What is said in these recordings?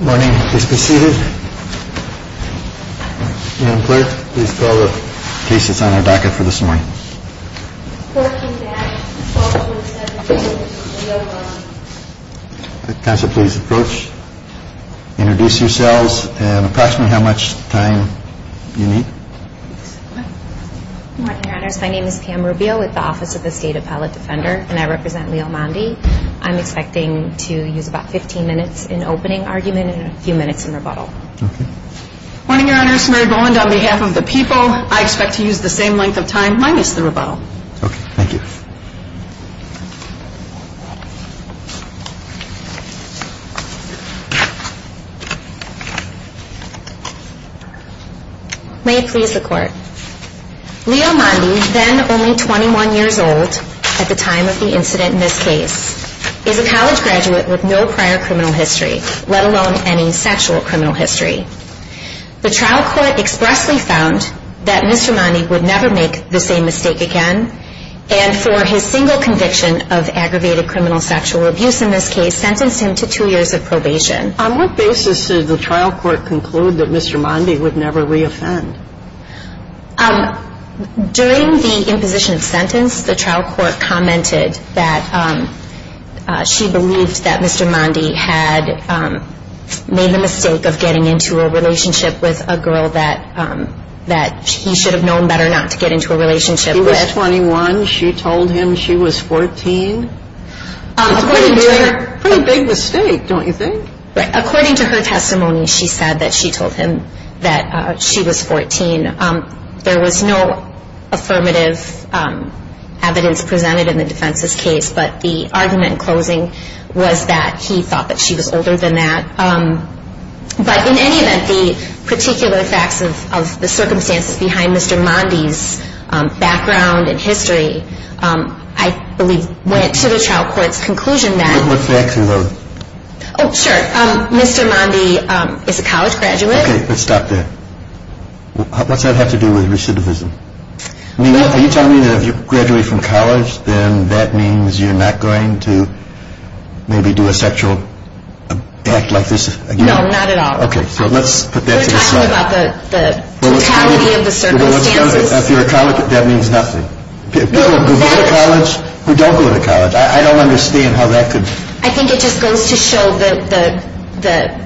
morning, please be seated and please call the cases on our docket for this morning. I'm expecting to use about 15 minutes in opening argument and a few minutes in rebuttal. May it please the court. Leo Mondy, then only 21 years old at the time of the incident in this case, is a college graduate with no prior criminal history, let alone any sexual criminal history. The trial court expressly found that Mr. Mondy would never make the same mistake again and for his single conviction of aggravated criminal sexual abuse in this case sentenced him to two years of probation. On what basis did the trial court conclude that Mr. Mondy would never re-offend? During the imposition of sentence, the trial court commented that she believed that Mr. Mondy had made the mistake of getting into a relationship with a girl that he should have known better not to get into a relationship with. She was 21. She told him she was 14. It's a pretty big mistake, don't you think? According to her testimony, she said that she told him that she was 14. There was no affirmative evidence presented in the defense's case, but the argument in closing was that he thought that she was older than that. But in any event, the particular facts of the circumstances behind Mr. Mondy's background and history, I believe, went to the trial court's conclusion that... What facts, in other words? Oh, sure. Mr. Mondy is a college graduate. Okay, but stop there. What's that have to do with recidivism? Are you telling me that if you graduate from college, then that means you're not going to maybe do a sexual act like this again? No, not at all. Okay, so let's put that to the side. We're talking about the totality of the circumstances. If you're a college graduate, that means nothing. People who go to college who don't go to college, I don't understand how that could... I think it just goes to show the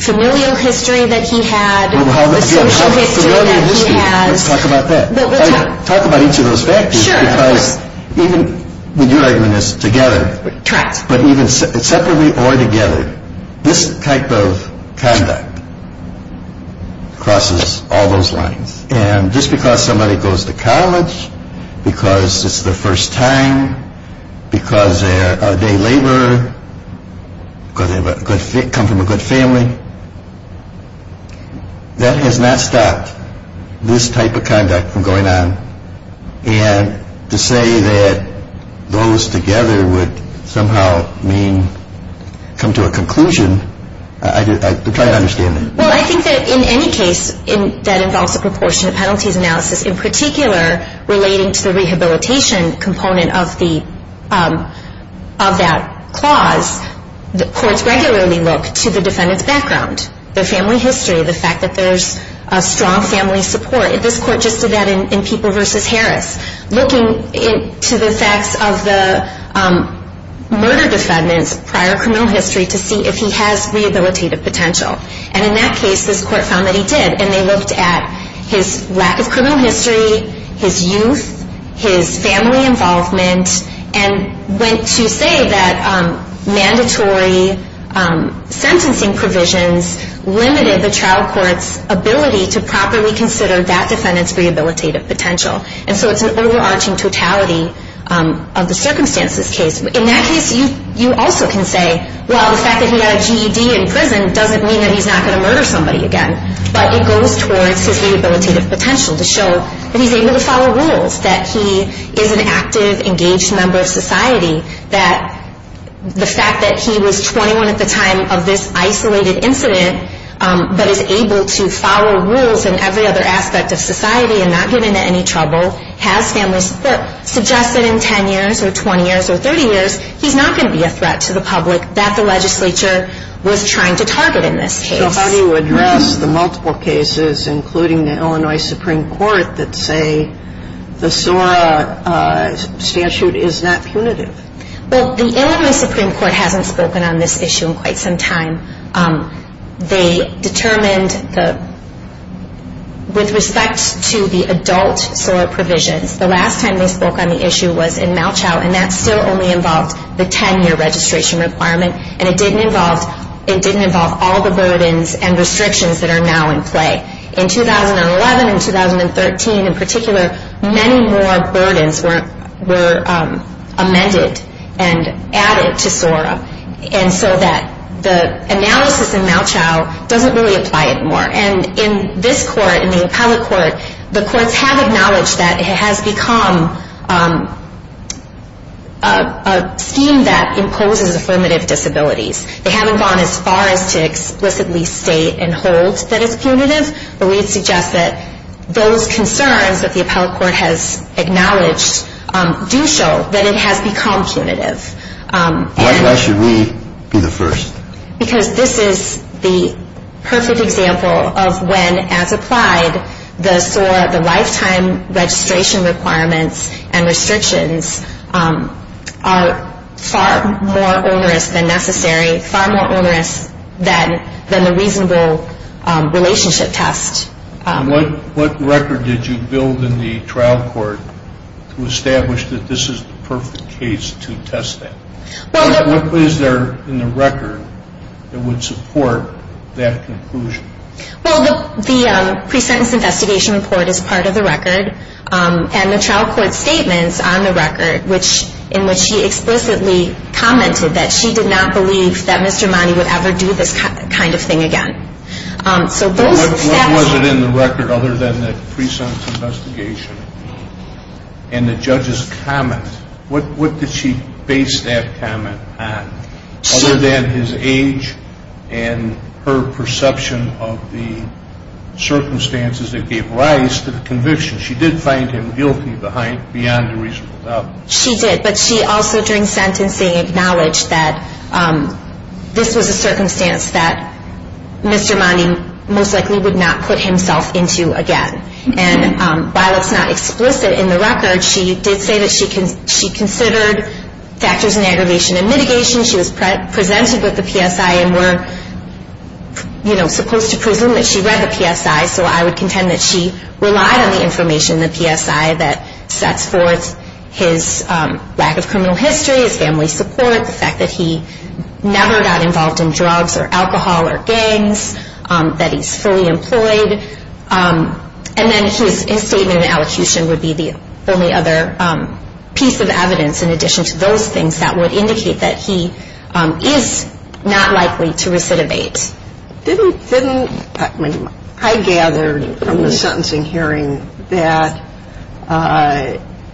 familial history that he had, the social history that he has. Let's talk about that. Let's talk about each of those factors, because even when you're arguing this together, but even separately or together, this type of conduct crosses all those lines. And just because somebody goes to college because it's their first time, because they're a day laborer, because they come from a good family, that has not stopped this type of conduct from going on. And to say that those together would somehow mean come to a conclusion, I'm trying to understand that. Well, I think that in any case that involves a proportionate penalties analysis, in particular relating to the rehabilitation component of that clause, the courts regularly look to the defendant's background, their family history, the fact that there's a strong family support. This court just did that in People v. Harris, looking to the facts of the murder defendant's prior criminal history to see if he has rehabilitative potential. And in that case, this court found that he did. And they looked at his lack of criminal history, his youth, his family involvement, and went to say that mandatory sentencing provisions limited the trial court's ability to properly consider that defendant's rehabilitative potential. And so it's an overarching totality of the circumstances case. In that case, you also can say, well, the fact that he got a GED in prison doesn't mean that he's not going to murder somebody again. But it goes towards his rehabilitative potential to show that he's able to follow rules, that he is an active, engaged member of society, that the fact that he was 21 at the time of this isolated incident, but is able to follow rules in every other aspect of society and not get into any trouble, has family support, suggests that in 10 years or 20 years or 30 years, he's not going to be a threat to the public that the legislature was trying to target in this case. So how do you address the multiple cases, including the Illinois Supreme Court, that say the SORA statute is not punitive? Well, the Illinois Supreme Court hasn't spoken on this issue in quite some time. They determined with respect to the adult SORA provisions, the last time they spoke on the issue was in Malchow, and that still only involved the 10-year registration requirement, and it didn't involve all the burdens and restrictions that are now in play. In 2011 and 2013 in particular, many more burdens were amended and added to SORA, and so that the analysis in Malchow doesn't really apply it more. And in this court, in the appellate court, the courts have acknowledged that it has become a scheme that imposes affirmative disabilities. They haven't gone as far as to explicitly state and hold that it's punitive, but we suggest that those concerns that the appellate court has acknowledged do show that it has become punitive. Why should we be the first? Because this is the perfect example of when, as applied, the SORA, the lifetime registration requirements and restrictions are far more onerous than necessary, far more onerous than the reasonable relationship test. And what record did you build in the trial court to establish that this is the perfect case to test that? What is there in the record that would support that conclusion? Well, the pre-sentence investigation report is part of the record, and the trial court statements on the record, in which she explicitly commented that she did not believe that Mr. Mani would ever do this kind of thing again. What was it in the record other than the pre-sentence investigation and the judge's comment? What did she base that comment on? Other than his age and her perception of the circumstances that gave rise to the conviction. She did find him guilty beyond a reasonable doubt. She did, but she also, during sentencing, acknowledged that this was a circumstance that Mr. Mani most likely would not put himself into again. And while it's not explicit in the record, she did say that she considered factors in aggravation and mitigation. She was presented with the PSI, and we're supposed to presume that she read the PSI, so I would contend that she relied on the information in the PSI that sets forth his lack of criminal history, his family support, the fact that he never got involved in drugs or alcohol or gangs, that he's fully employed. And then his statement in allocution would be the only other piece of evidence in addition to those things that would indicate that he is not likely to recidivate. Didn't I gather from the sentencing hearing that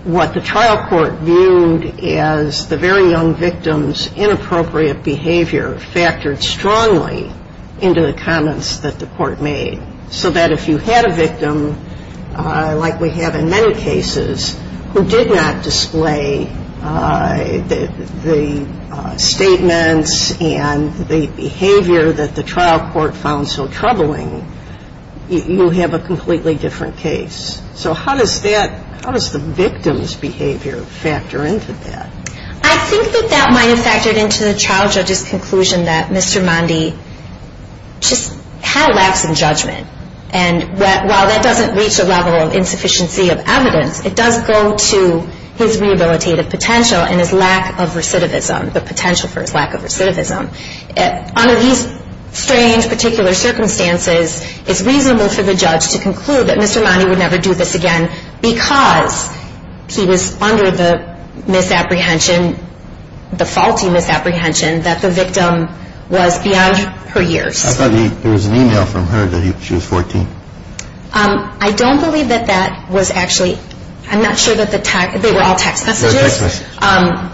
what the trial court viewed as the very young victim's inappropriate behavior factored strongly into the comments that the court made? So that if you had a victim, like we have in many cases, who did not display the statements and the behavior that the trial court found so troubling, you have a completely different case. So how does the victim's behavior factor into that? I think that that might have factored into the trial judge's conclusion that Mr. Mondi just had lacks in judgment. And while that doesn't reach the level of insufficiency of evidence, it does go to his rehabilitative potential and his lack of recidivism, the potential for his lack of recidivism. Under these strange particular circumstances, it's reasonable for the judge to conclude that Mr. Mondi would never do this again because he was under the misapprehension, the faulty misapprehension, that the victim was beyond her years. I thought there was an email from her that she was 14. I don't believe that that was actually. I'm not sure that they were all text messages. I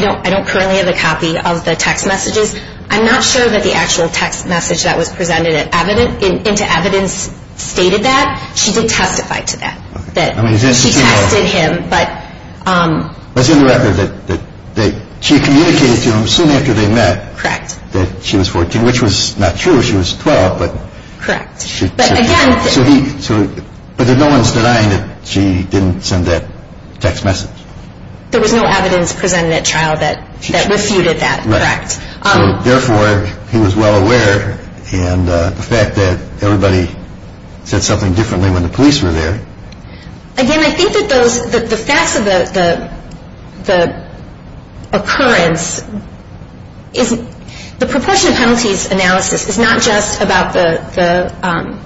don't currently have a copy of the text messages. I'm not sure that the actual text message that was presented into evidence stated that. She did testify to that. She tested him. She communicated to him soon after they met that she was 14, which was not true. She was 12. But no one's denying that she didn't send that text message. There was no evidence presented at trial that refuted that. Therefore, he was well aware. The fact that everybody said something differently when the police were there. Again, I think that the facts of the occurrence, the proportion of penalties analysis is not just about the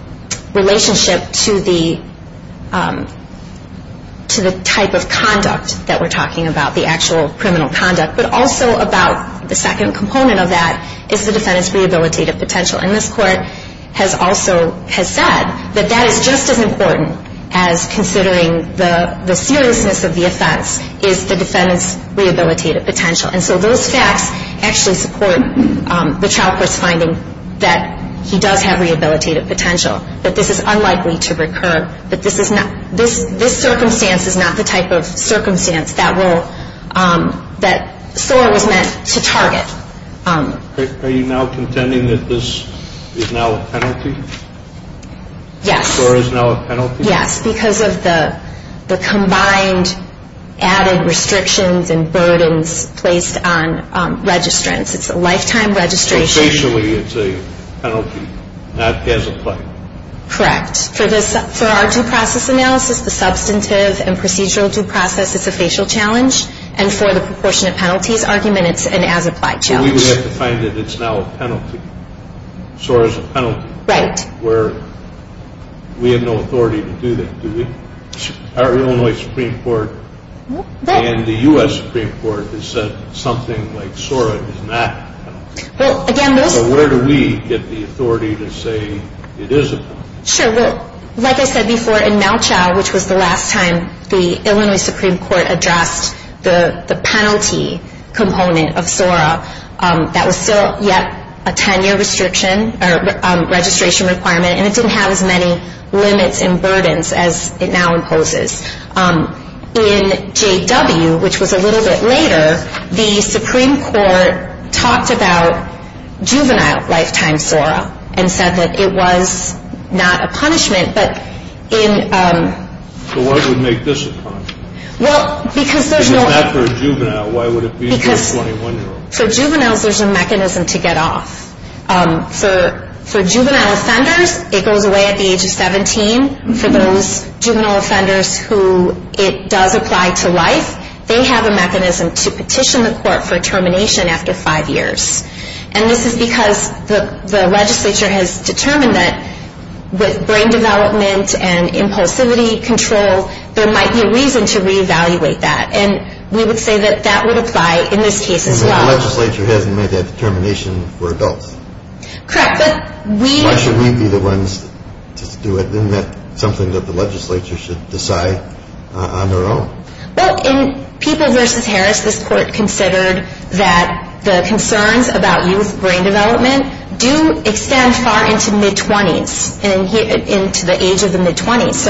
relationship to the type of conduct that we're talking about, the actual criminal conduct, but also about the second component of that is the defendant's rehabilitative potential. And this court has also said that that is just as important as considering the seriousness of the offense is the defendant's rehabilitative potential. And so those facts actually support the trial court's finding that he does have rehabilitative potential, that this is unlikely to recur, that this circumstance is not the type of circumstance that SOAR was meant to target. Are you now contending that this is now a penalty? Yes. SOAR is now a penalty? Yes, because of the combined added restrictions and burdens placed on registrants. It's a lifetime registration. Facially, it's a penalty, not as applied. Correct. For our due process analysis, the substantive and procedural due process is a facial challenge, and for the proportion of penalties argument, it's an as applied challenge. We would have to find that it's now a penalty. SOAR is a penalty. We have no authority to do that, do we? Our Illinois Supreme Court and the U.S. Supreme Court has said something like SOAR is not a penalty. So where do we get the authority to say it is a penalty? Sure. Well, like I said before, in Malchow, which was the last time the Illinois Supreme Court addressed the penalty component of SOAR, that was still yet a 10-year registration requirement, and it didn't have as many limits and burdens as it now imposes. In JW, which was a little bit later, the Supreme Court talked about juvenile lifetime SOAR and said that it was not a punishment. So what would make this a punishment? If it's not for a juvenile, why would it be for a 21-year-old? For juveniles, there's a mechanism to get off. For juvenile offenders, it goes away at the age of 17. For those juvenile offenders who it does apply to life, they have a mechanism to petition the court for termination after five years. And this is because the legislature has determined that with brain development and impulsivity control, there might be a reason to reevaluate that. And we would say that that would apply in this case as well. But the legislature hasn't made that determination for adults. Why should we be the ones to do it? Isn't that something that the legislature should decide on their own? In People v. Harris, this court considered that the concerns about youth brain development do extend far into mid-20s and into the age of the mid-20s.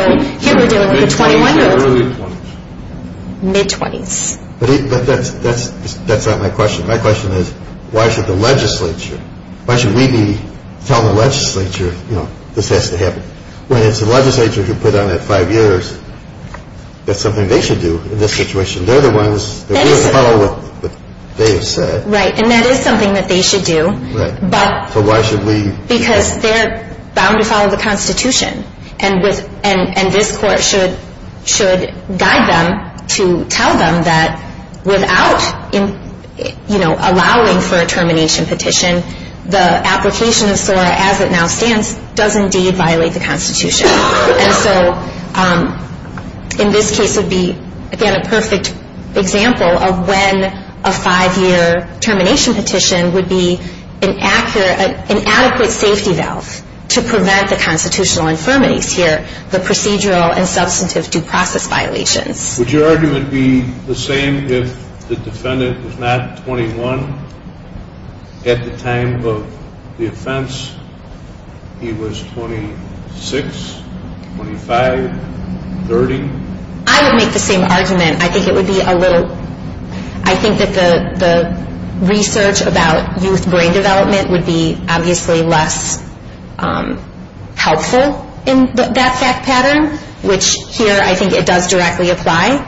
But that's not my question. My question is, why should the legislature, why should we be telling the legislature, you know, this has to happen? When it's the legislature who put on that five years, that's something they should do in this situation. They're the ones that follow what they have said. Right, and that is something that they should do. So why should we? Because they're bound to follow the Constitution. And this court should guide them to tell them that without, you know, allowing for a termination petition, the application of SORA as it now stands does indeed violate the Constitution. And so in this case would be, again, a perfect example of when a five-year termination petition would be an adequate safety valve to prevent the constitutional infirmities here, the procedural and substantive due process violations. Would your argument be the same if the defendant was not 21 at the time of the offense? He was 26, 25, 30? I would make the same argument. I think it would be a little, I think that the research about youth brain development would be obviously less helpful in that fact pattern, which here I think it does directly apply.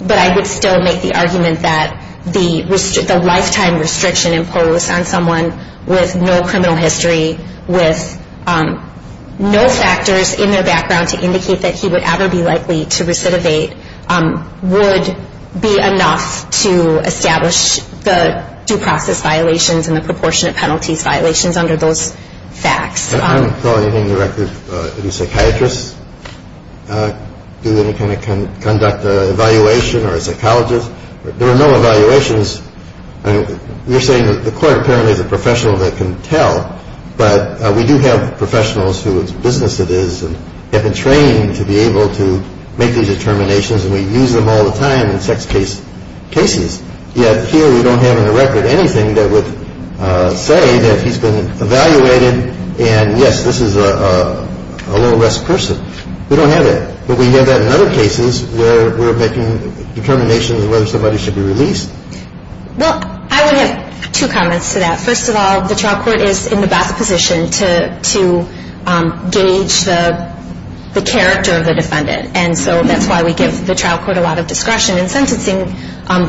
But I would still make the argument that the lifetime restriction imposed on someone with no criminal history, with no factors in their background to indicate that he would ever be likely to recidivate would be enough to establish the due process violations and the proportionate penalties violations under those facts. I'm calling the record a psychiatrist. Do they conduct an evaluation or a psychologist? There are no evaluations. We're saying that the court apparently is a professional that can tell, but we do have professionals whose business it is and have been trained to be able to make these determinations, and we use them all the time in sex case cases. Yet here we don't have in the record anything that would say that he's been evaluated, and yes, this is a low-risk person. We don't have that, but we have that in other cases where we're making determinations on whether somebody should be released. Well, I would have two comments to that. First of all, the trial court is in the best position to gauge the character of the defendant, and so that's why we give the trial court a lot of discretion in sentencing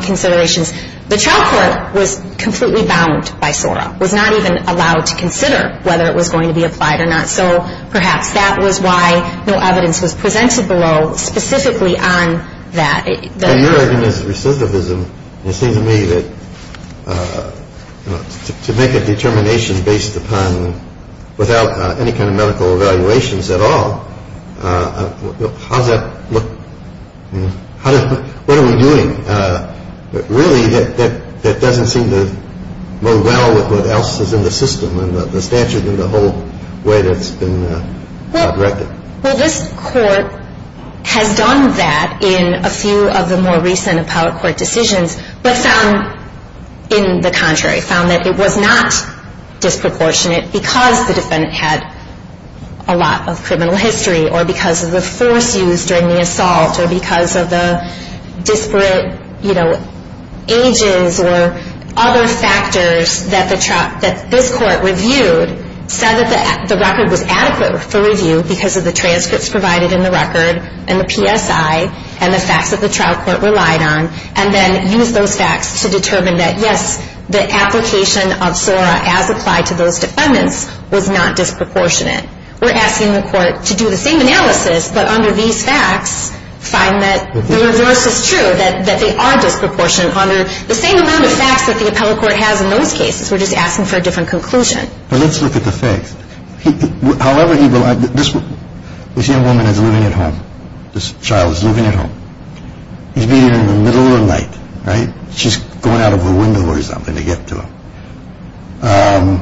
considerations. The trial court was completely bound by SORA, was not even allowed to consider whether it was going to be applied or not, so perhaps that was why no evidence was presented below specifically on that. Your argument is recidivism. It seems to me that to make a determination based upon without any kind of medical evaluations at all, how does that look? What are we doing really that doesn't seem to mow well with what else is in the system and the statute and the whole way that it's been directed? Well, this court has done that in a few of the more recent appellate court decisions, but found in the contrary, found that it was not disproportionate because the defendant had a lot of criminal history or because of the force used during the assault or because of the disparate ages or other factors that this court reviewed, said that the record was adequate for review because of the transcripts provided in the record and the PSI and the facts that the trial court relied on, and then used those facts to determine that, yes, the application of SORA as applied to those defendants was not disproportionate. We're asking the court to do the same analysis, but under these facts, find that the reverse is true, that they are disproportionate under the same amount of facts that the appellate court has in those cases. We're just asking for a different conclusion. Let's look at the facts. This young woman is living at home. This child is living at home. He's been here in the middle of the night, right? She's going out of her window or something to get to him.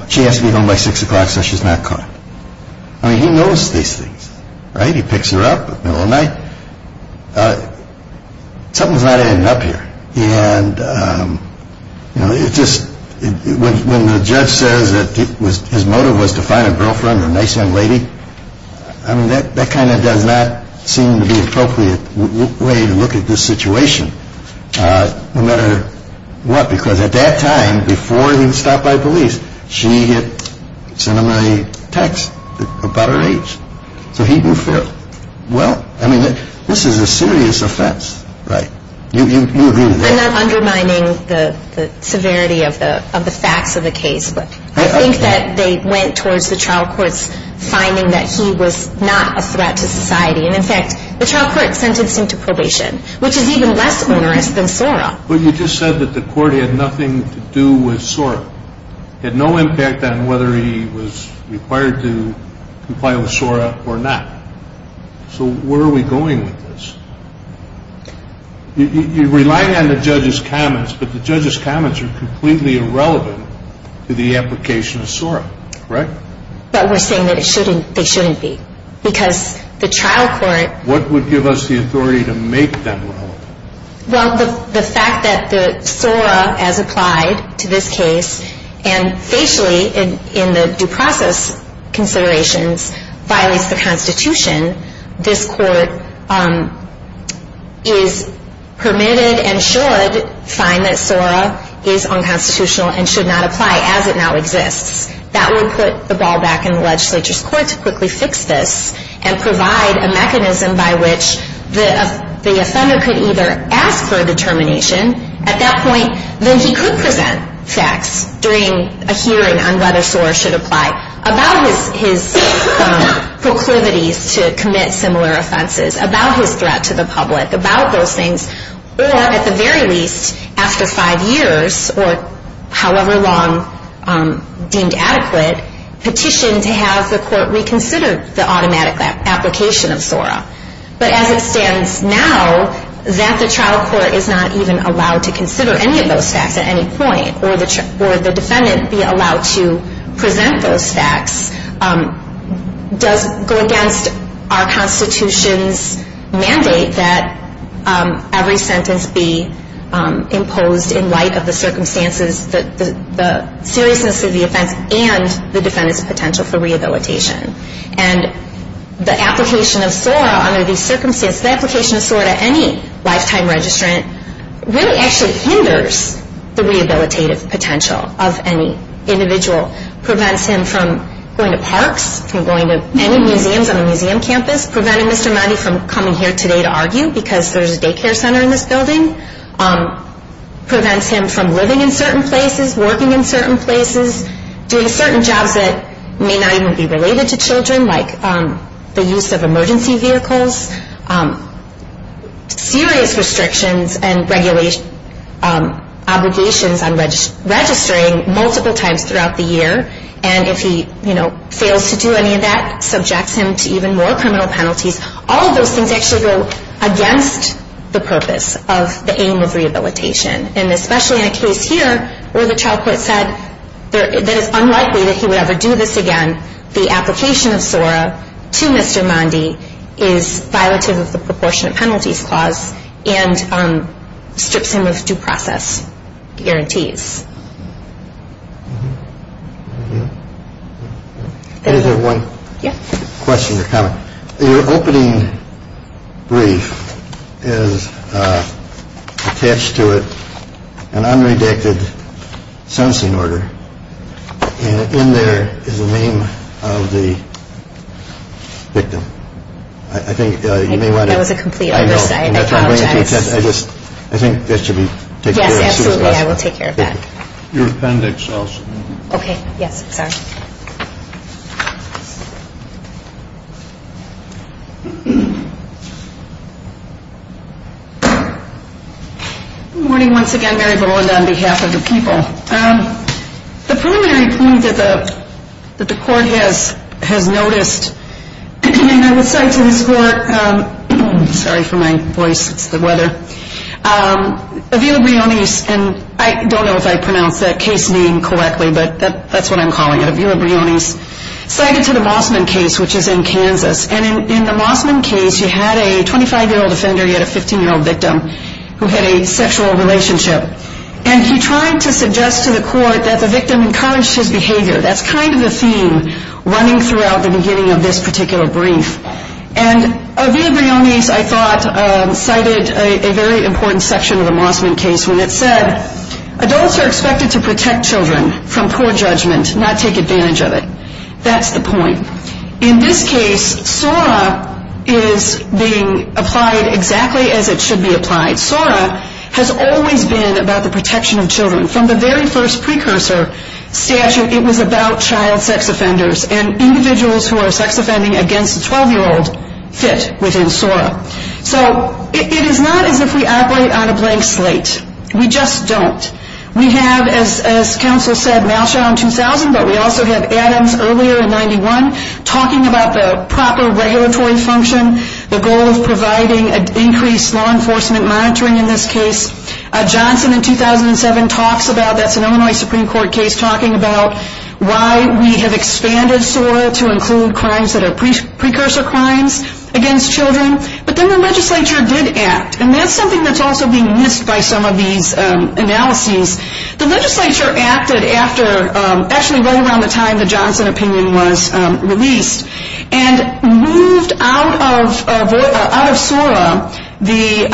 She has to be home by 6 o'clock so she's not caught. I mean, he knows these things, right? He picks her up in the middle of the night. Something's not adding up here. And, you know, it's just when the judge says that his motive was to find a girlfriend, a nice young lady, I mean, that kind of does not seem to be an appropriate way to look at this situation, no matter what, because at that time, before he was stopped by police, she had sent him a text about her age. So he knew fairly well. I mean, this is a serious offense, right? You agree with that? I'm not undermining the severity of the facts of the case, but I think that they went towards the trial court's finding that he was not a threat to society. And, in fact, the trial court sentenced him to probation, which is even less onerous than SORA. But you just said that the court had nothing to do with SORA. It had no impact on whether he was required to comply with SORA or not. So where are we going with this? You're relying on the judge's comments, but the judge's comments are completely irrelevant to the application of SORA, correct? But we're saying that they shouldn't be, because the trial court. What would give us the authority to make them relevant? Well, the fact that the SORA, as applied to this case, and facially, in the due process considerations, violates the Constitution, this court is permitted and should find that SORA is unconstitutional and should not apply as it now exists. That would put the ball back in the legislature's court to quickly fix this and provide a mechanism by which the offender could either ask for a determination at that point, then he could present facts during a hearing on whether SORA should apply, about his proclivities to commit similar offenses, about his threat to the public, about those things, or at the very least, after five years, or however long deemed adequate, petition to have the court reconsider the automatic application of SORA. But as it stands now, that the trial court is not even allowed to consider any of those facts at any point, or the defendant be allowed to present those facts, does go against our Constitution's mandate that every sentence be imposed in light of the circumstances, the seriousness of the offense, and the defendant's potential for rehabilitation. And the application of SORA under these circumstances, the application of SORA to any lifetime registrant, really actually hinders the rehabilitative potential of any individual, prevents him from going to parks, from going to any museums on a museum campus, preventing Mr. Maddy from coming here today to argue because there's a daycare center in this building, prevents him from living in certain places, working in certain places, doing certain jobs that may not even be related to children, like the use of emergency vehicles, serious restrictions and obligations on registering multiple times throughout the year, and if he fails to do any of that, subjects him to even more criminal penalties. All of those things actually go against the purpose of the aim of rehabilitation. And especially in a case here where the trial court said that it's unlikely that he would ever do this again, the application of SORA to Mr. Maddy is violative of the proportionate penalties clause and strips him of due process guarantees. Thank you. I just have one question or comment. Your opening brief is attached to it an unredacted sentencing order, and in there is the name of the victim. I think you may want to... I think that was a complete oversight. I know. I apologize. I think that should be taken care of. Absolutely. I will take care of that. Your appendix also. Okay. Yes. Sorry. Good morning once again. Mary Boland on behalf of the people. The preliminary point that the court has noticed, and I would say to this court, sorry for my voice, it's the weather, Avila Briones, and I don't know if I pronounced that case name correctly, but that's what I'm calling it, Avila Briones, cited to the Mossman case, which is in Kansas. And in the Mossman case, you had a 25-year-old offender, you had a 15-year-old victim who had a sexual relationship. And he tried to suggest to the court that the victim encouraged his behavior. That's kind of the theme running throughout the beginning of this particular brief. And Avila Briones, I thought, cited a very important section of the Mossman case when it said, adults are expected to protect children from poor judgment, not take advantage of it. That's the point. In this case, SORA is being applied exactly as it should be applied. SORA has always been about the protection of children. From the very first precursor statute, it was about child sex offenders. And individuals who are sex offending against a 12-year-old fit within SORA. So it is not as if we operate on a blank slate. We just don't. We have, as counsel said, Malshaw in 2000, but we also have Adams earlier in 1991, talking about the proper regulatory function, the goal of providing increased law enforcement monitoring in this case. Johnson in 2007 talks about, that's an Illinois Supreme Court case, talking about why we have expanded SORA to include crimes that are precursor crimes against children. But then the legislature did act. And that's something that's also being missed by some of these analyses. The legislature acted after, actually right around the time the Johnson opinion was released, and moved out of SORA the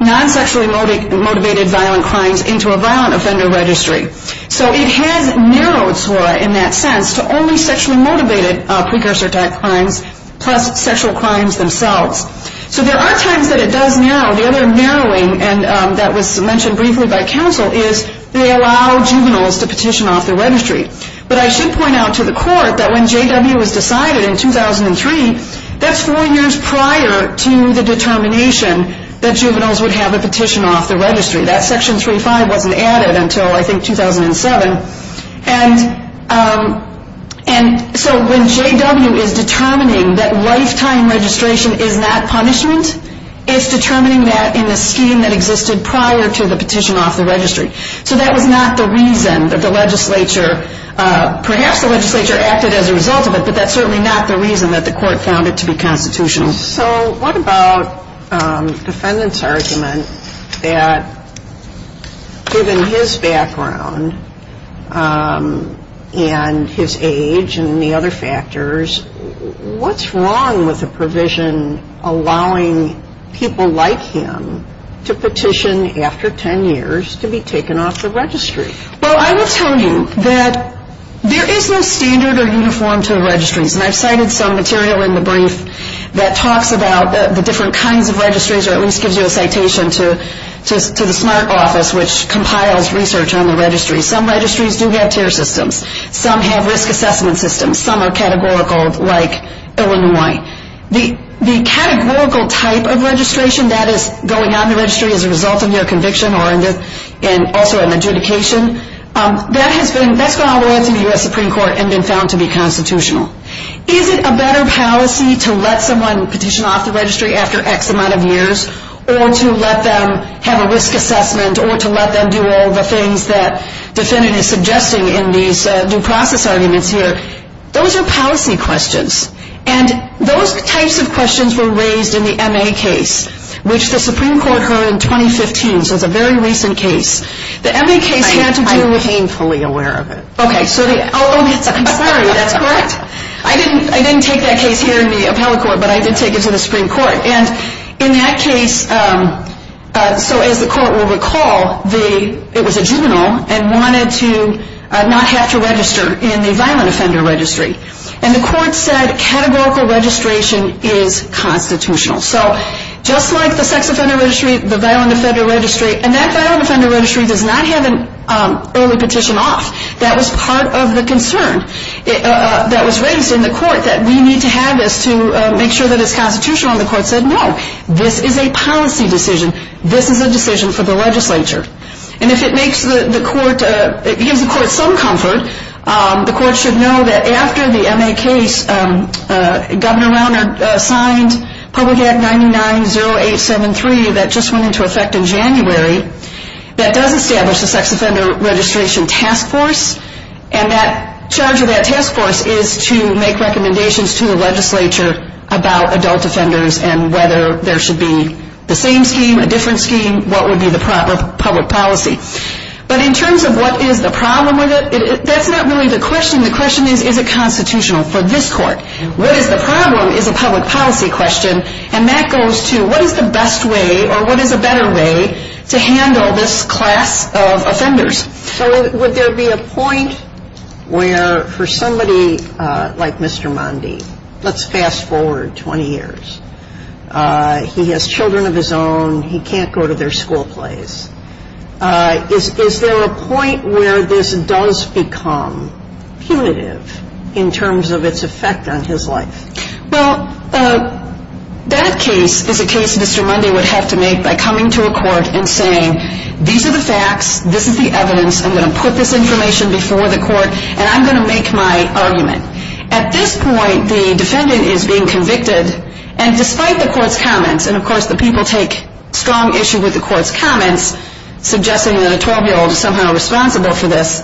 non-sexually motivated violent crimes into a violent offender registry. So it has narrowed SORA in that sense to only sexually motivated precursor crimes plus sexual crimes themselves. So there are times that it does narrow. The other narrowing that was mentioned briefly by counsel is they allow juveniles to petition off their registry. But I should point out to the court that when J.W. was decided in 2003, that's four years prior to the determination that juveniles would have a petition off their registry. That section 35 wasn't added until I think 2007. And so when J.W. is determining that lifetime registration is not punishment, it's determining that in the scheme that existed prior to the petition off the registry. So that was not the reason that the legislature, perhaps the legislature acted as a result of it, but that's certainly not the reason that the court found it to be constitutional. So what about the defendant's argument that given his background and his age and the other factors, what's wrong with a provision allowing people like him to petition after 10 years to be taken off the registry? Well, I will tell you that there is no standard or uniform to registries. And I've cited some material in the brief that talks about the different kinds of registries or at least gives you a citation to the SMART Office, which compiles research on the registry. Some registries do have tier systems. Some have risk assessment systems. Some are categorical like Illinois. The categorical type of registration that is going on in the registry as a result of your conviction and also an adjudication, that's gone on to the U.S. Supreme Court and been found to be constitutional. Is it a better policy to let someone petition off the registry after X amount of years or to let them have a risk assessment or to let them do all the things that the defendant is suggesting in these due process arguments here? Those are policy questions. And those types of questions were raised in the M.A. case, which the Supreme Court heard in 2015. So it's a very recent case. I'm painfully aware of it. Okay. I'm sorry. That's correct. I didn't take that case here in the appellate court, but I did take it to the Supreme Court. And in that case, so as the court will recall, it was a juvenile and wanted to not have to register in the violent offender registry. And the court said categorical registration is constitutional. So just like the sex offender registry, the violent offender registry, and that violent offender registry does not have an early petition off. That was part of the concern that was raised in the court, that we need to have this to make sure that it's constitutional. And the court said, no, this is a policy decision. This is a decision for the legislature. And if it gives the court some comfort, the court should know that after the M.A. case, Governor Rauner signed Public Act 990873 that just went into effect in January that does establish the sex offender registration task force. And that charge of that task force is to make recommendations to the legislature about adult offenders and whether there should be the same scheme, a different scheme, what would be the proper public policy. But in terms of what is the problem with it, that's not really the question. The question is, is it constitutional for this court? What is the problem is a public policy question, and that goes to, what is the best way or what is a better way to handle this class of offenders? So would there be a point where for somebody like Mr. Mundy, let's fast forward 20 years. He has children of his own. He can't go to their school place. Is there a point where this does become punitive in terms of its effect on his life? Well, that case is a case Mr. Mundy would have to make by coming to a court and saying, these are the facts, this is the evidence, I'm going to put this information before the court, and I'm going to make my argument. At this point, the defendant is being convicted, and despite the court's comments, and of course the people take strong issue with the court's comments, suggesting that a 12-year-old is somehow responsible for this.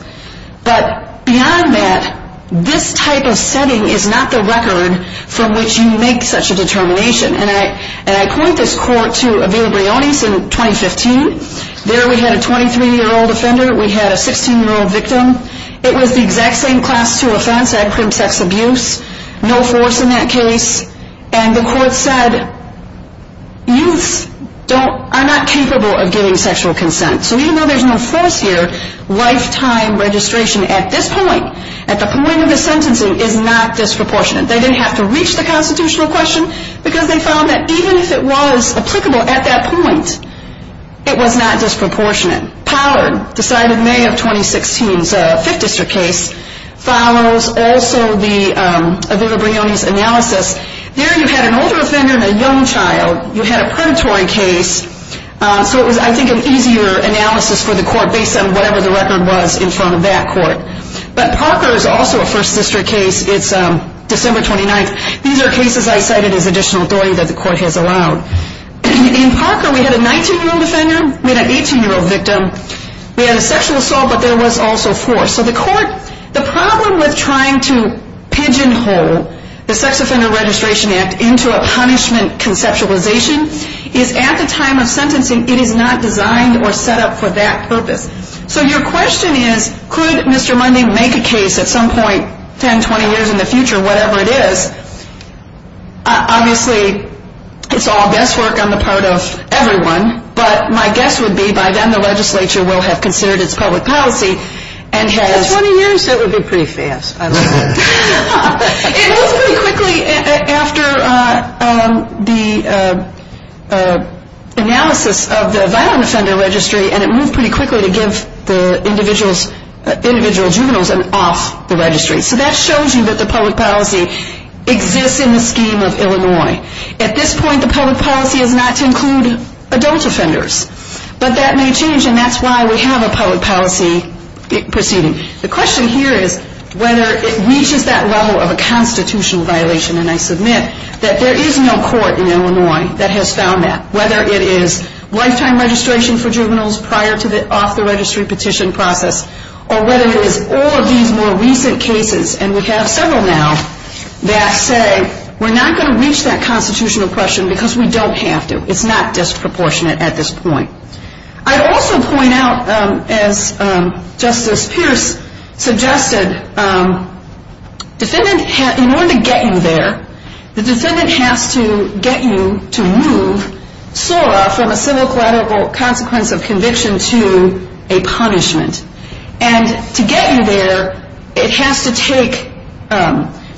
But beyond that, this type of setting is not the record from which you make such a determination. And I point this court to Avila Briones in 2015. There we had a 23-year-old offender. We had a 16-year-old victim. It was the exact same class 2 offense. They had crim sex abuse. No force in that case. And the court said, youths are not capable of giving sexual consent. So even though there's no force here, lifetime registration at this point, at the point of the sentencing, is not disproportionate. They didn't have to reach the constitutional question, because they found that even if it was applicable at that point, it was not disproportionate. Pollard, decided in May of 2016's Fifth District case, follows also the Avila Briones analysis. There you had an older offender and a young child. You had a predatory case. So it was, I think, an easier analysis for the court, based on whatever the record was in front of that court. But Parker is also a First District case. It's December 29th. These are cases I cited as additional authority that the court has allowed. In Parker, we had a 19-year-old offender, we had an 18-year-old victim. We had a sexual assault, but there was also force. So the court, the problem with trying to pigeonhole the Sex Offender Registration Act into a punishment conceptualization is at the time of sentencing, it is not designed or set up for that purpose. So your question is, could Mr. Mundy make a case at some point, 10, 20 years in the future, whatever it is? Obviously, it's all guesswork on the part of everyone, but my guess would be by then the legislature will have considered its public policy. In 20 years, it would be pretty fast. It was pretty quickly after the analysis of the Violent Offender Registry, and it moved pretty quickly to give the individual juveniles an off the registry. So that shows you that the public policy exists in the scheme of Illinois. At this point, the public policy is not to include adult offenders. But that may change, and that's why we have a public policy proceeding. The question here is whether it reaches that level of a constitutional violation, and I submit that there is no court in Illinois that has found that, whether it is lifetime registration for juveniles prior to the off the registry petition process, or whether it is all of these more recent cases, and we have several now, that say we're not going to reach that constitutional question because we don't have to. It's not disproportionate at this point. I'd also point out, as Justice Pierce suggested, in order to get you there, the defendant has to get you to move SORA from a civil collateral consequence of conviction to a punishment. And to get you there, it has to take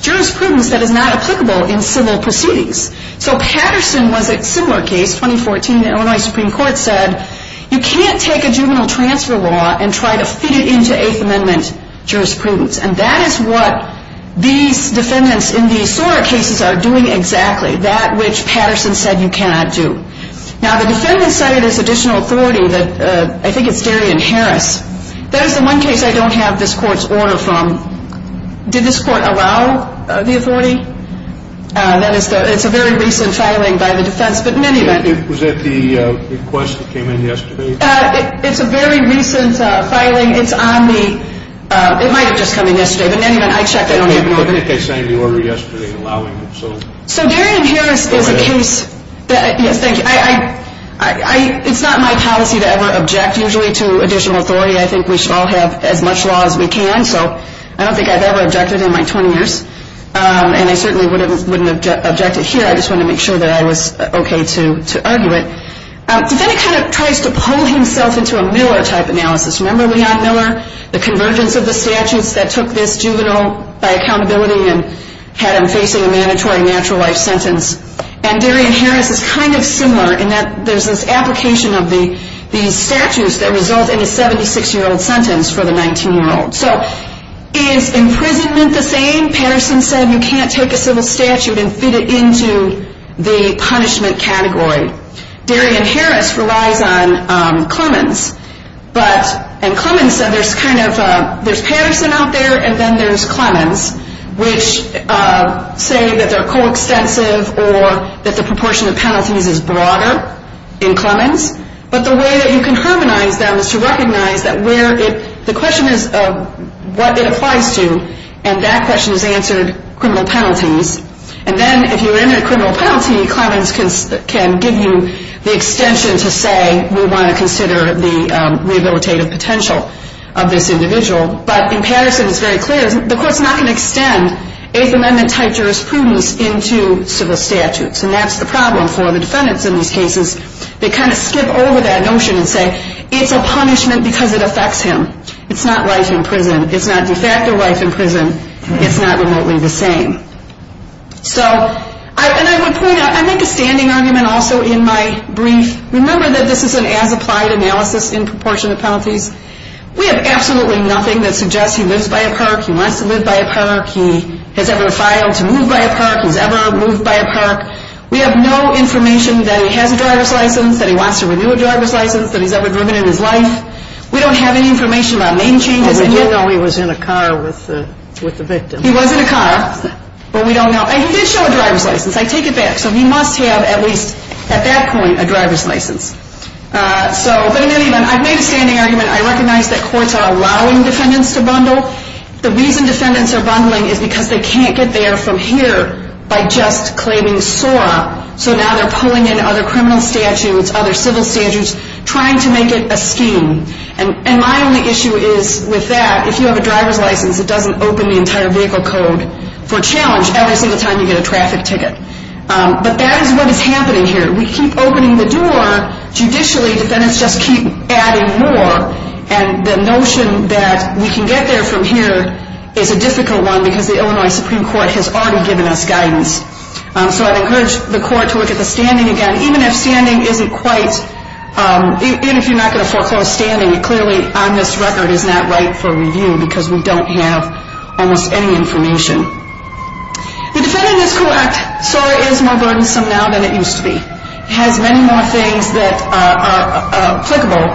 jurisprudence that is not applicable in civil proceedings. So Patterson was a similar case. In 2014, the Illinois Supreme Court said you can't take a juvenile transfer law and try to feed it into Eighth Amendment jurisprudence. And that is what these defendants in the SORA cases are doing exactly, that which Patterson said you cannot do. Now, the defendants cited as additional authority, I think it's Darian Harris. That is the one case I don't have this Court's order from. Did this Court allow the authority? It's a very recent filing by the defense, but in any event. Was that the request that came in yesterday? It's a very recent filing. It might have just come in yesterday, but in any event, I checked. I don't have an order. I think they signed the order yesterday allowing it. So Darian Harris is a case that, yes, thank you. It's not my policy to ever object usually to additional authority. I think we should all have as much law as we can. So I don't think I've ever objected in my 20 years. And I certainly wouldn't object it here. I just wanted to make sure that I was okay to argue it. Defendant kind of tries to pull himself into a Miller type analysis. Remember Leon Miller, the convergence of the statutes that took this juvenile by accountability and had him facing a mandatory natural life sentence. And Darian Harris is kind of similar in that there's this application of the statutes that result in a 76-year-old sentence for the 19-year-old. So is imprisonment the same? I think Patterson said you can't take a civil statute and fit it into the punishment category. Darian Harris relies on Clemens. And Clemens said there's Patterson out there and then there's Clemens, which say that they're coextensive or that the proportion of penalties is broader in Clemens. But the way that you can harmonize them is to recognize that the question is what it applies to and that question is answered criminal penalties. And then if you're in a criminal penalty, Clemens can give you the extension to say we want to consider the rehabilitative potential of this individual. But in Patterson it's very clear the court's not going to extend Eighth Amendment type jurisprudence into civil statutes. And that's the problem for the defendants in these cases. They kind of skip over that notion and say it's a punishment because it affects him. It's not life in prison. It's not de facto life in prison. It's not remotely the same. So I make a standing argument also in my brief. Remember that this is an as-applied analysis in proportion to penalties. We have absolutely nothing that suggests he lives by a perk. He wants to live by a perk. He has ever filed to move by a perk. He's ever moved by a perk. We have no information that he has a driver's license, that he wants to renew a driver's license, that he's ever driven in his life. We don't have any information about name changes. But we do know he was in a car with the victim. He was in a car. But we don't know. And he did show a driver's license. I take it back. So he must have at least at that point a driver's license. But in any event, I've made a standing argument. I recognize that courts are allowing defendants to bundle. The reason defendants are bundling is because they can't get there from here by just claiming SORA. So now they're pulling in other criminal statutes, other civil statutes, trying to make it a scheme. And my only issue is with that, if you have a driver's license, it doesn't open the entire vehicle code for challenge every single time you get a traffic ticket. But that is what is happening here. We keep opening the door. Judicially, defendants just keep adding more. And the notion that we can get there from here is a difficult one because the Illinois Supreme Court has already given us guidance. So I'd encourage the court to look at the standing again. Even if standing isn't quite, even if you're not going to foreclose standing, it clearly on this record is not right for review because we don't have almost any information. The defendant is correct. SORA is more burdensome now than it used to be. It has many more things that are applicable.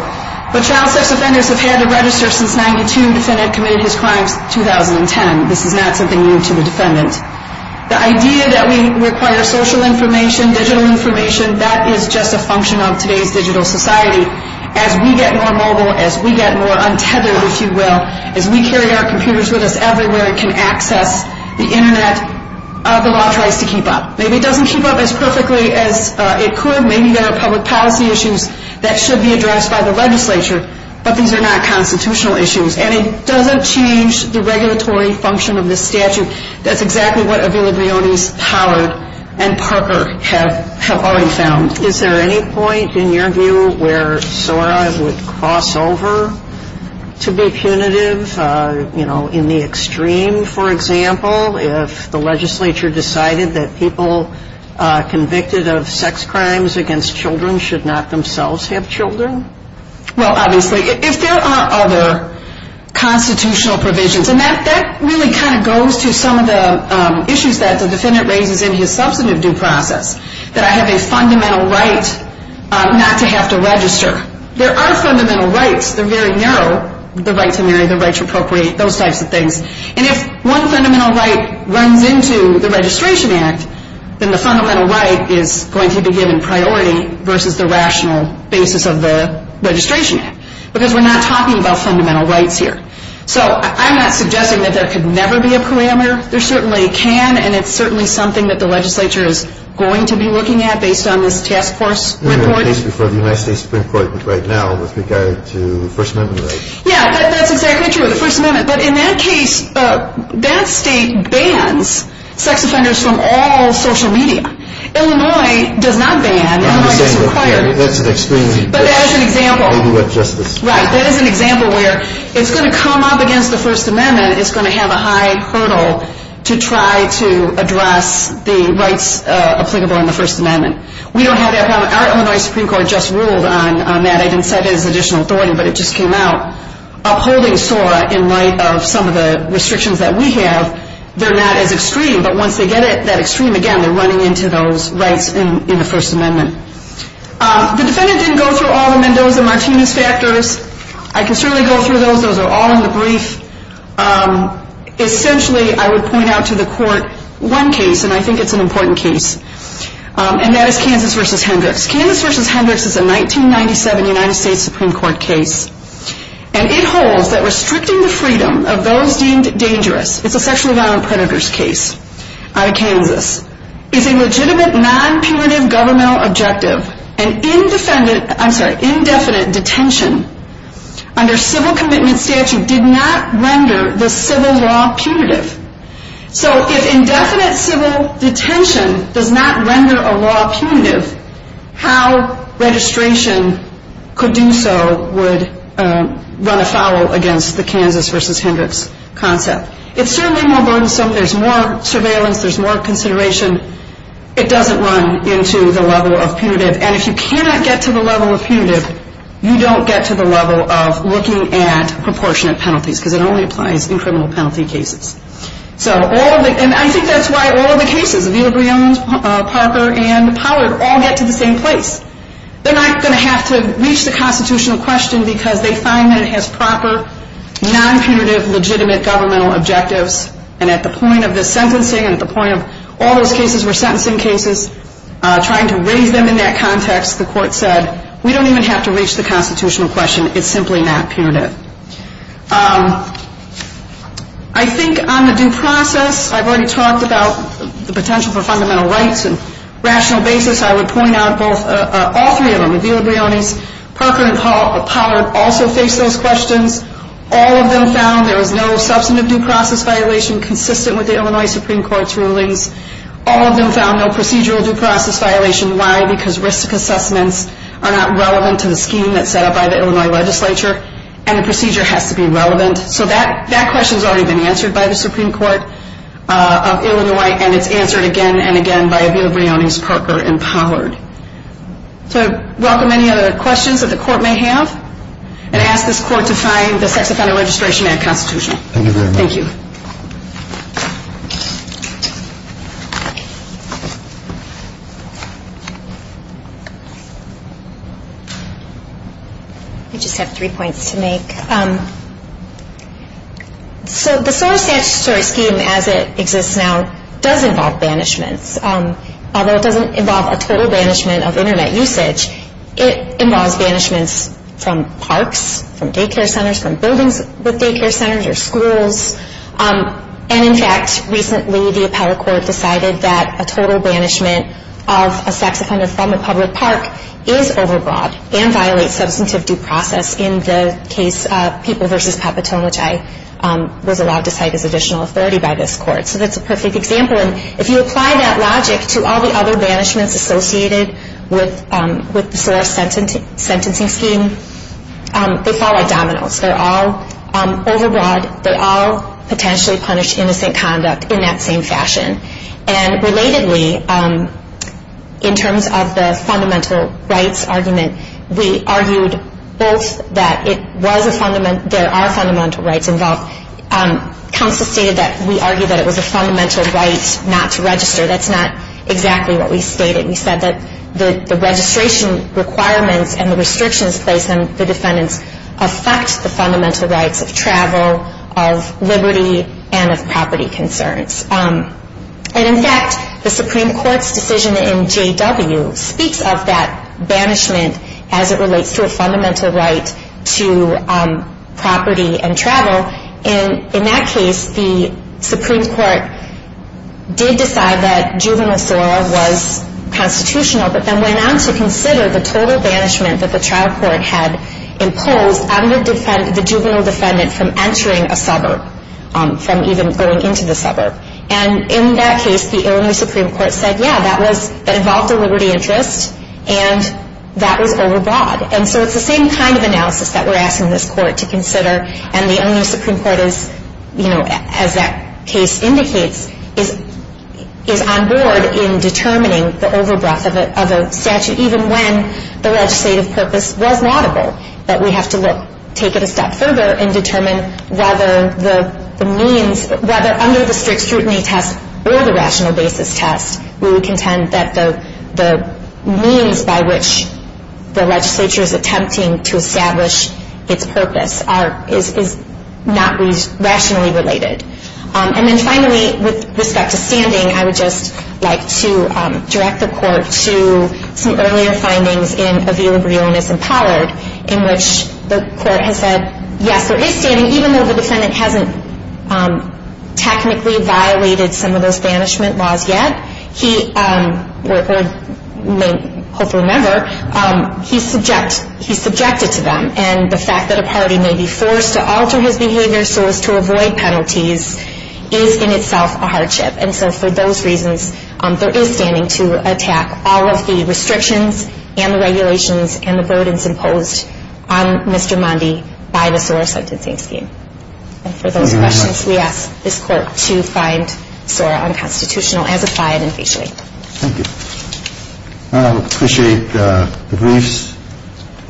But child sex offenders have had to register since 92. The defendant committed his crimes in 2010. This is not something new to the defendant. The idea that we require social information, digital information, that is just a function of today's digital society. As we get more mobile, as we get more untethered, if you will, as we carry our computers with us everywhere and can access the Internet, the law tries to keep up. Maybe it doesn't keep up as perfectly as it could. Maybe there are public policy issues that should be addressed by the legislature. But these are not constitutional issues. And it doesn't change the regulatory function of this statute. And that's exactly what Avila Brioni's Howard and Parker have already found. Is there any point, in your view, where SORA would cross over to be punitive? You know, in the extreme, for example, if the legislature decided that people convicted of sex crimes against children should not themselves have children? Well, obviously, if there are other constitutional provisions, and that really kind of goes to some of the issues that the defendant raises in his substantive due process, that I have a fundamental right not to have to register. There are fundamental rights. They're very narrow, the right to marry, the right to appropriate, those types of things. And if one fundamental right runs into the Registration Act, then the fundamental right is going to be given priority versus the rational basis of the Registration Act because we're not talking about fundamental rights here. So I'm not suggesting that there could never be a parameter. There certainly can, and it's certainly something that the legislature is going to be looking at based on this task force report. We're in a case before the United States Supreme Court right now with regard to the First Amendment right. Yeah, that's exactly true, the First Amendment. But in that case, that state bans sex offenders from all social media. Illinois does not ban. Illinois doesn't require. But that is an example. Right, that is an example where it's going to come up against the First Amendment. It's going to have a high hurdle to try to address the rights applicable in the First Amendment. We don't have that problem. Our Illinois Supreme Court just ruled on that. I didn't cite it as additional authority, but it just came out. Upholding SORA in light of some of the restrictions that we have, they're not as extreme. But once they get that extreme, again, they're running into those rights in the First Amendment. The defendant didn't go through all the Mendoza-Martinez factors. I can certainly go through those. Those are all in the brief. Essentially, I would point out to the court one case, and I think it's an important case, and that is Kansas v. Hendricks. Kansas v. Hendricks is a 1997 United States Supreme Court case, and it holds that restricting the freedom of those deemed dangerous, it's a sexual violent predators case out of Kansas, is a legitimate non-punitive governmental objective, and indefinite detention under civil commitment statute did not render the civil law punitive. So if indefinite civil detention does not render a law punitive, how registration could do so would run afoul against the Kansas v. Hendricks concept. It's certainly more burdensome. There's more surveillance. There's more consideration. It doesn't run into the level of punitive, and if you cannot get to the level of punitive, you don't get to the level of looking at proportionate penalties because it only applies in criminal penalty cases. And I think that's why all of the cases, Avila Brion, Parker, and Pollard all get to the same place. They're not going to have to reach the constitutional question because they find that it has proper non-punitive legitimate governmental objectives, and at the point of the sentencing and at the point of all those cases were sentencing cases, trying to raise them in that context, the court said, we don't even have to reach the constitutional question. It's simply not punitive. I think on the due process, I've already talked about the potential for fundamental rights and rational basis. I would point out all three of them, Avila Brionis, Parker, and Pollard also face those questions. All of them found there was no substantive due process violation consistent with the Illinois Supreme Court's rulings. All of them found no procedural due process violation. Why? Because risk assessments are not relevant to the scheme that's set up by the Illinois legislature, and the procedure has to be relevant. So that question's already been answered by the Supreme Court of Illinois, and it's answered again and again by Avila Brionis, Parker, and Pollard. So I welcome any other questions that the court may have and ask this court to find the sex offender registration act constitutional. Thank you very much. Thank you. I just have three points to make. So the SOTA statutory scheme as it exists now does involve banishments. Although it doesn't involve a total banishment of Internet usage, it involves banishments from parks, from daycare centers, from buildings with daycare centers or schools. And, in fact, recently the appellate court decided that a total banishment of a sex offender from a public park is overbroad and violates substantive due process in the case of People v. Papatone, which I was allowed to cite as additional authority by this court. So that's a perfect example. And if you apply that logic to all the other banishments associated with the SORA sentencing scheme, they fall like dominoes. They're all overbroad. They all potentially punish innocent conduct in that same fashion. And relatedly, in terms of the fundamental rights argument, we argued both that there are fundamental rights involved. Counsel stated that we argued that it was a fundamental right not to register. That's not exactly what we stated. We said that the registration requirements and the restrictions placed on the defendants affect the fundamental rights of travel, of liberty, and of property concerns. And, in fact, the Supreme Court's decision in J.W. speaks of that banishment as it relates to a fundamental right to property and travel. In that case, the Supreme Court did decide that juvenile SORA was constitutional but then went on to consider the total banishment that the trial court had imposed on the juvenile defendant from entering a suburb, from even going into the suburb. And in that case, the Illinois Supreme Court said, yeah, that involved a liberty interest and that was overbroad. And so it's the same kind of analysis that we're asking this court to consider. And the Illinois Supreme Court is, you know, as that case indicates, is on board in determining the overbroad of a statute, even when the legislative purpose was laudable, that we have to look, take it a step further and determine whether the means, whether under the strict scrutiny test or the rational basis test, we would contend that the means by which the legislature is attempting to establish its purpose is not rationally related. And then finally, with respect to standing, I would just like to direct the court to some earlier findings in Avila Brionis and Pollard in which the court has said, yes, there is standing, and even though the defendant hasn't technically violated some of those banishment laws yet, he, or hopefully never, he's subjected to them. And the fact that a party may be forced to alter his behavior so as to avoid penalties is in itself a hardship. And so for those reasons, there is standing to attack all of the restrictions and the regulations and the burdens imposed on Mr. Mondy by the SOAR sentencing scheme. And for those questions, we ask this court to find SOAR unconstitutional as applied and facially. Thank you. I appreciate the briefs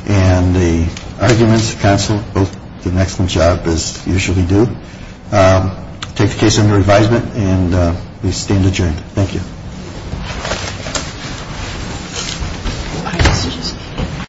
and the arguments, counsel. Both did an excellent job, as they usually do. Take the case under advisement, and we stand adjourned. Thank you. Thank you.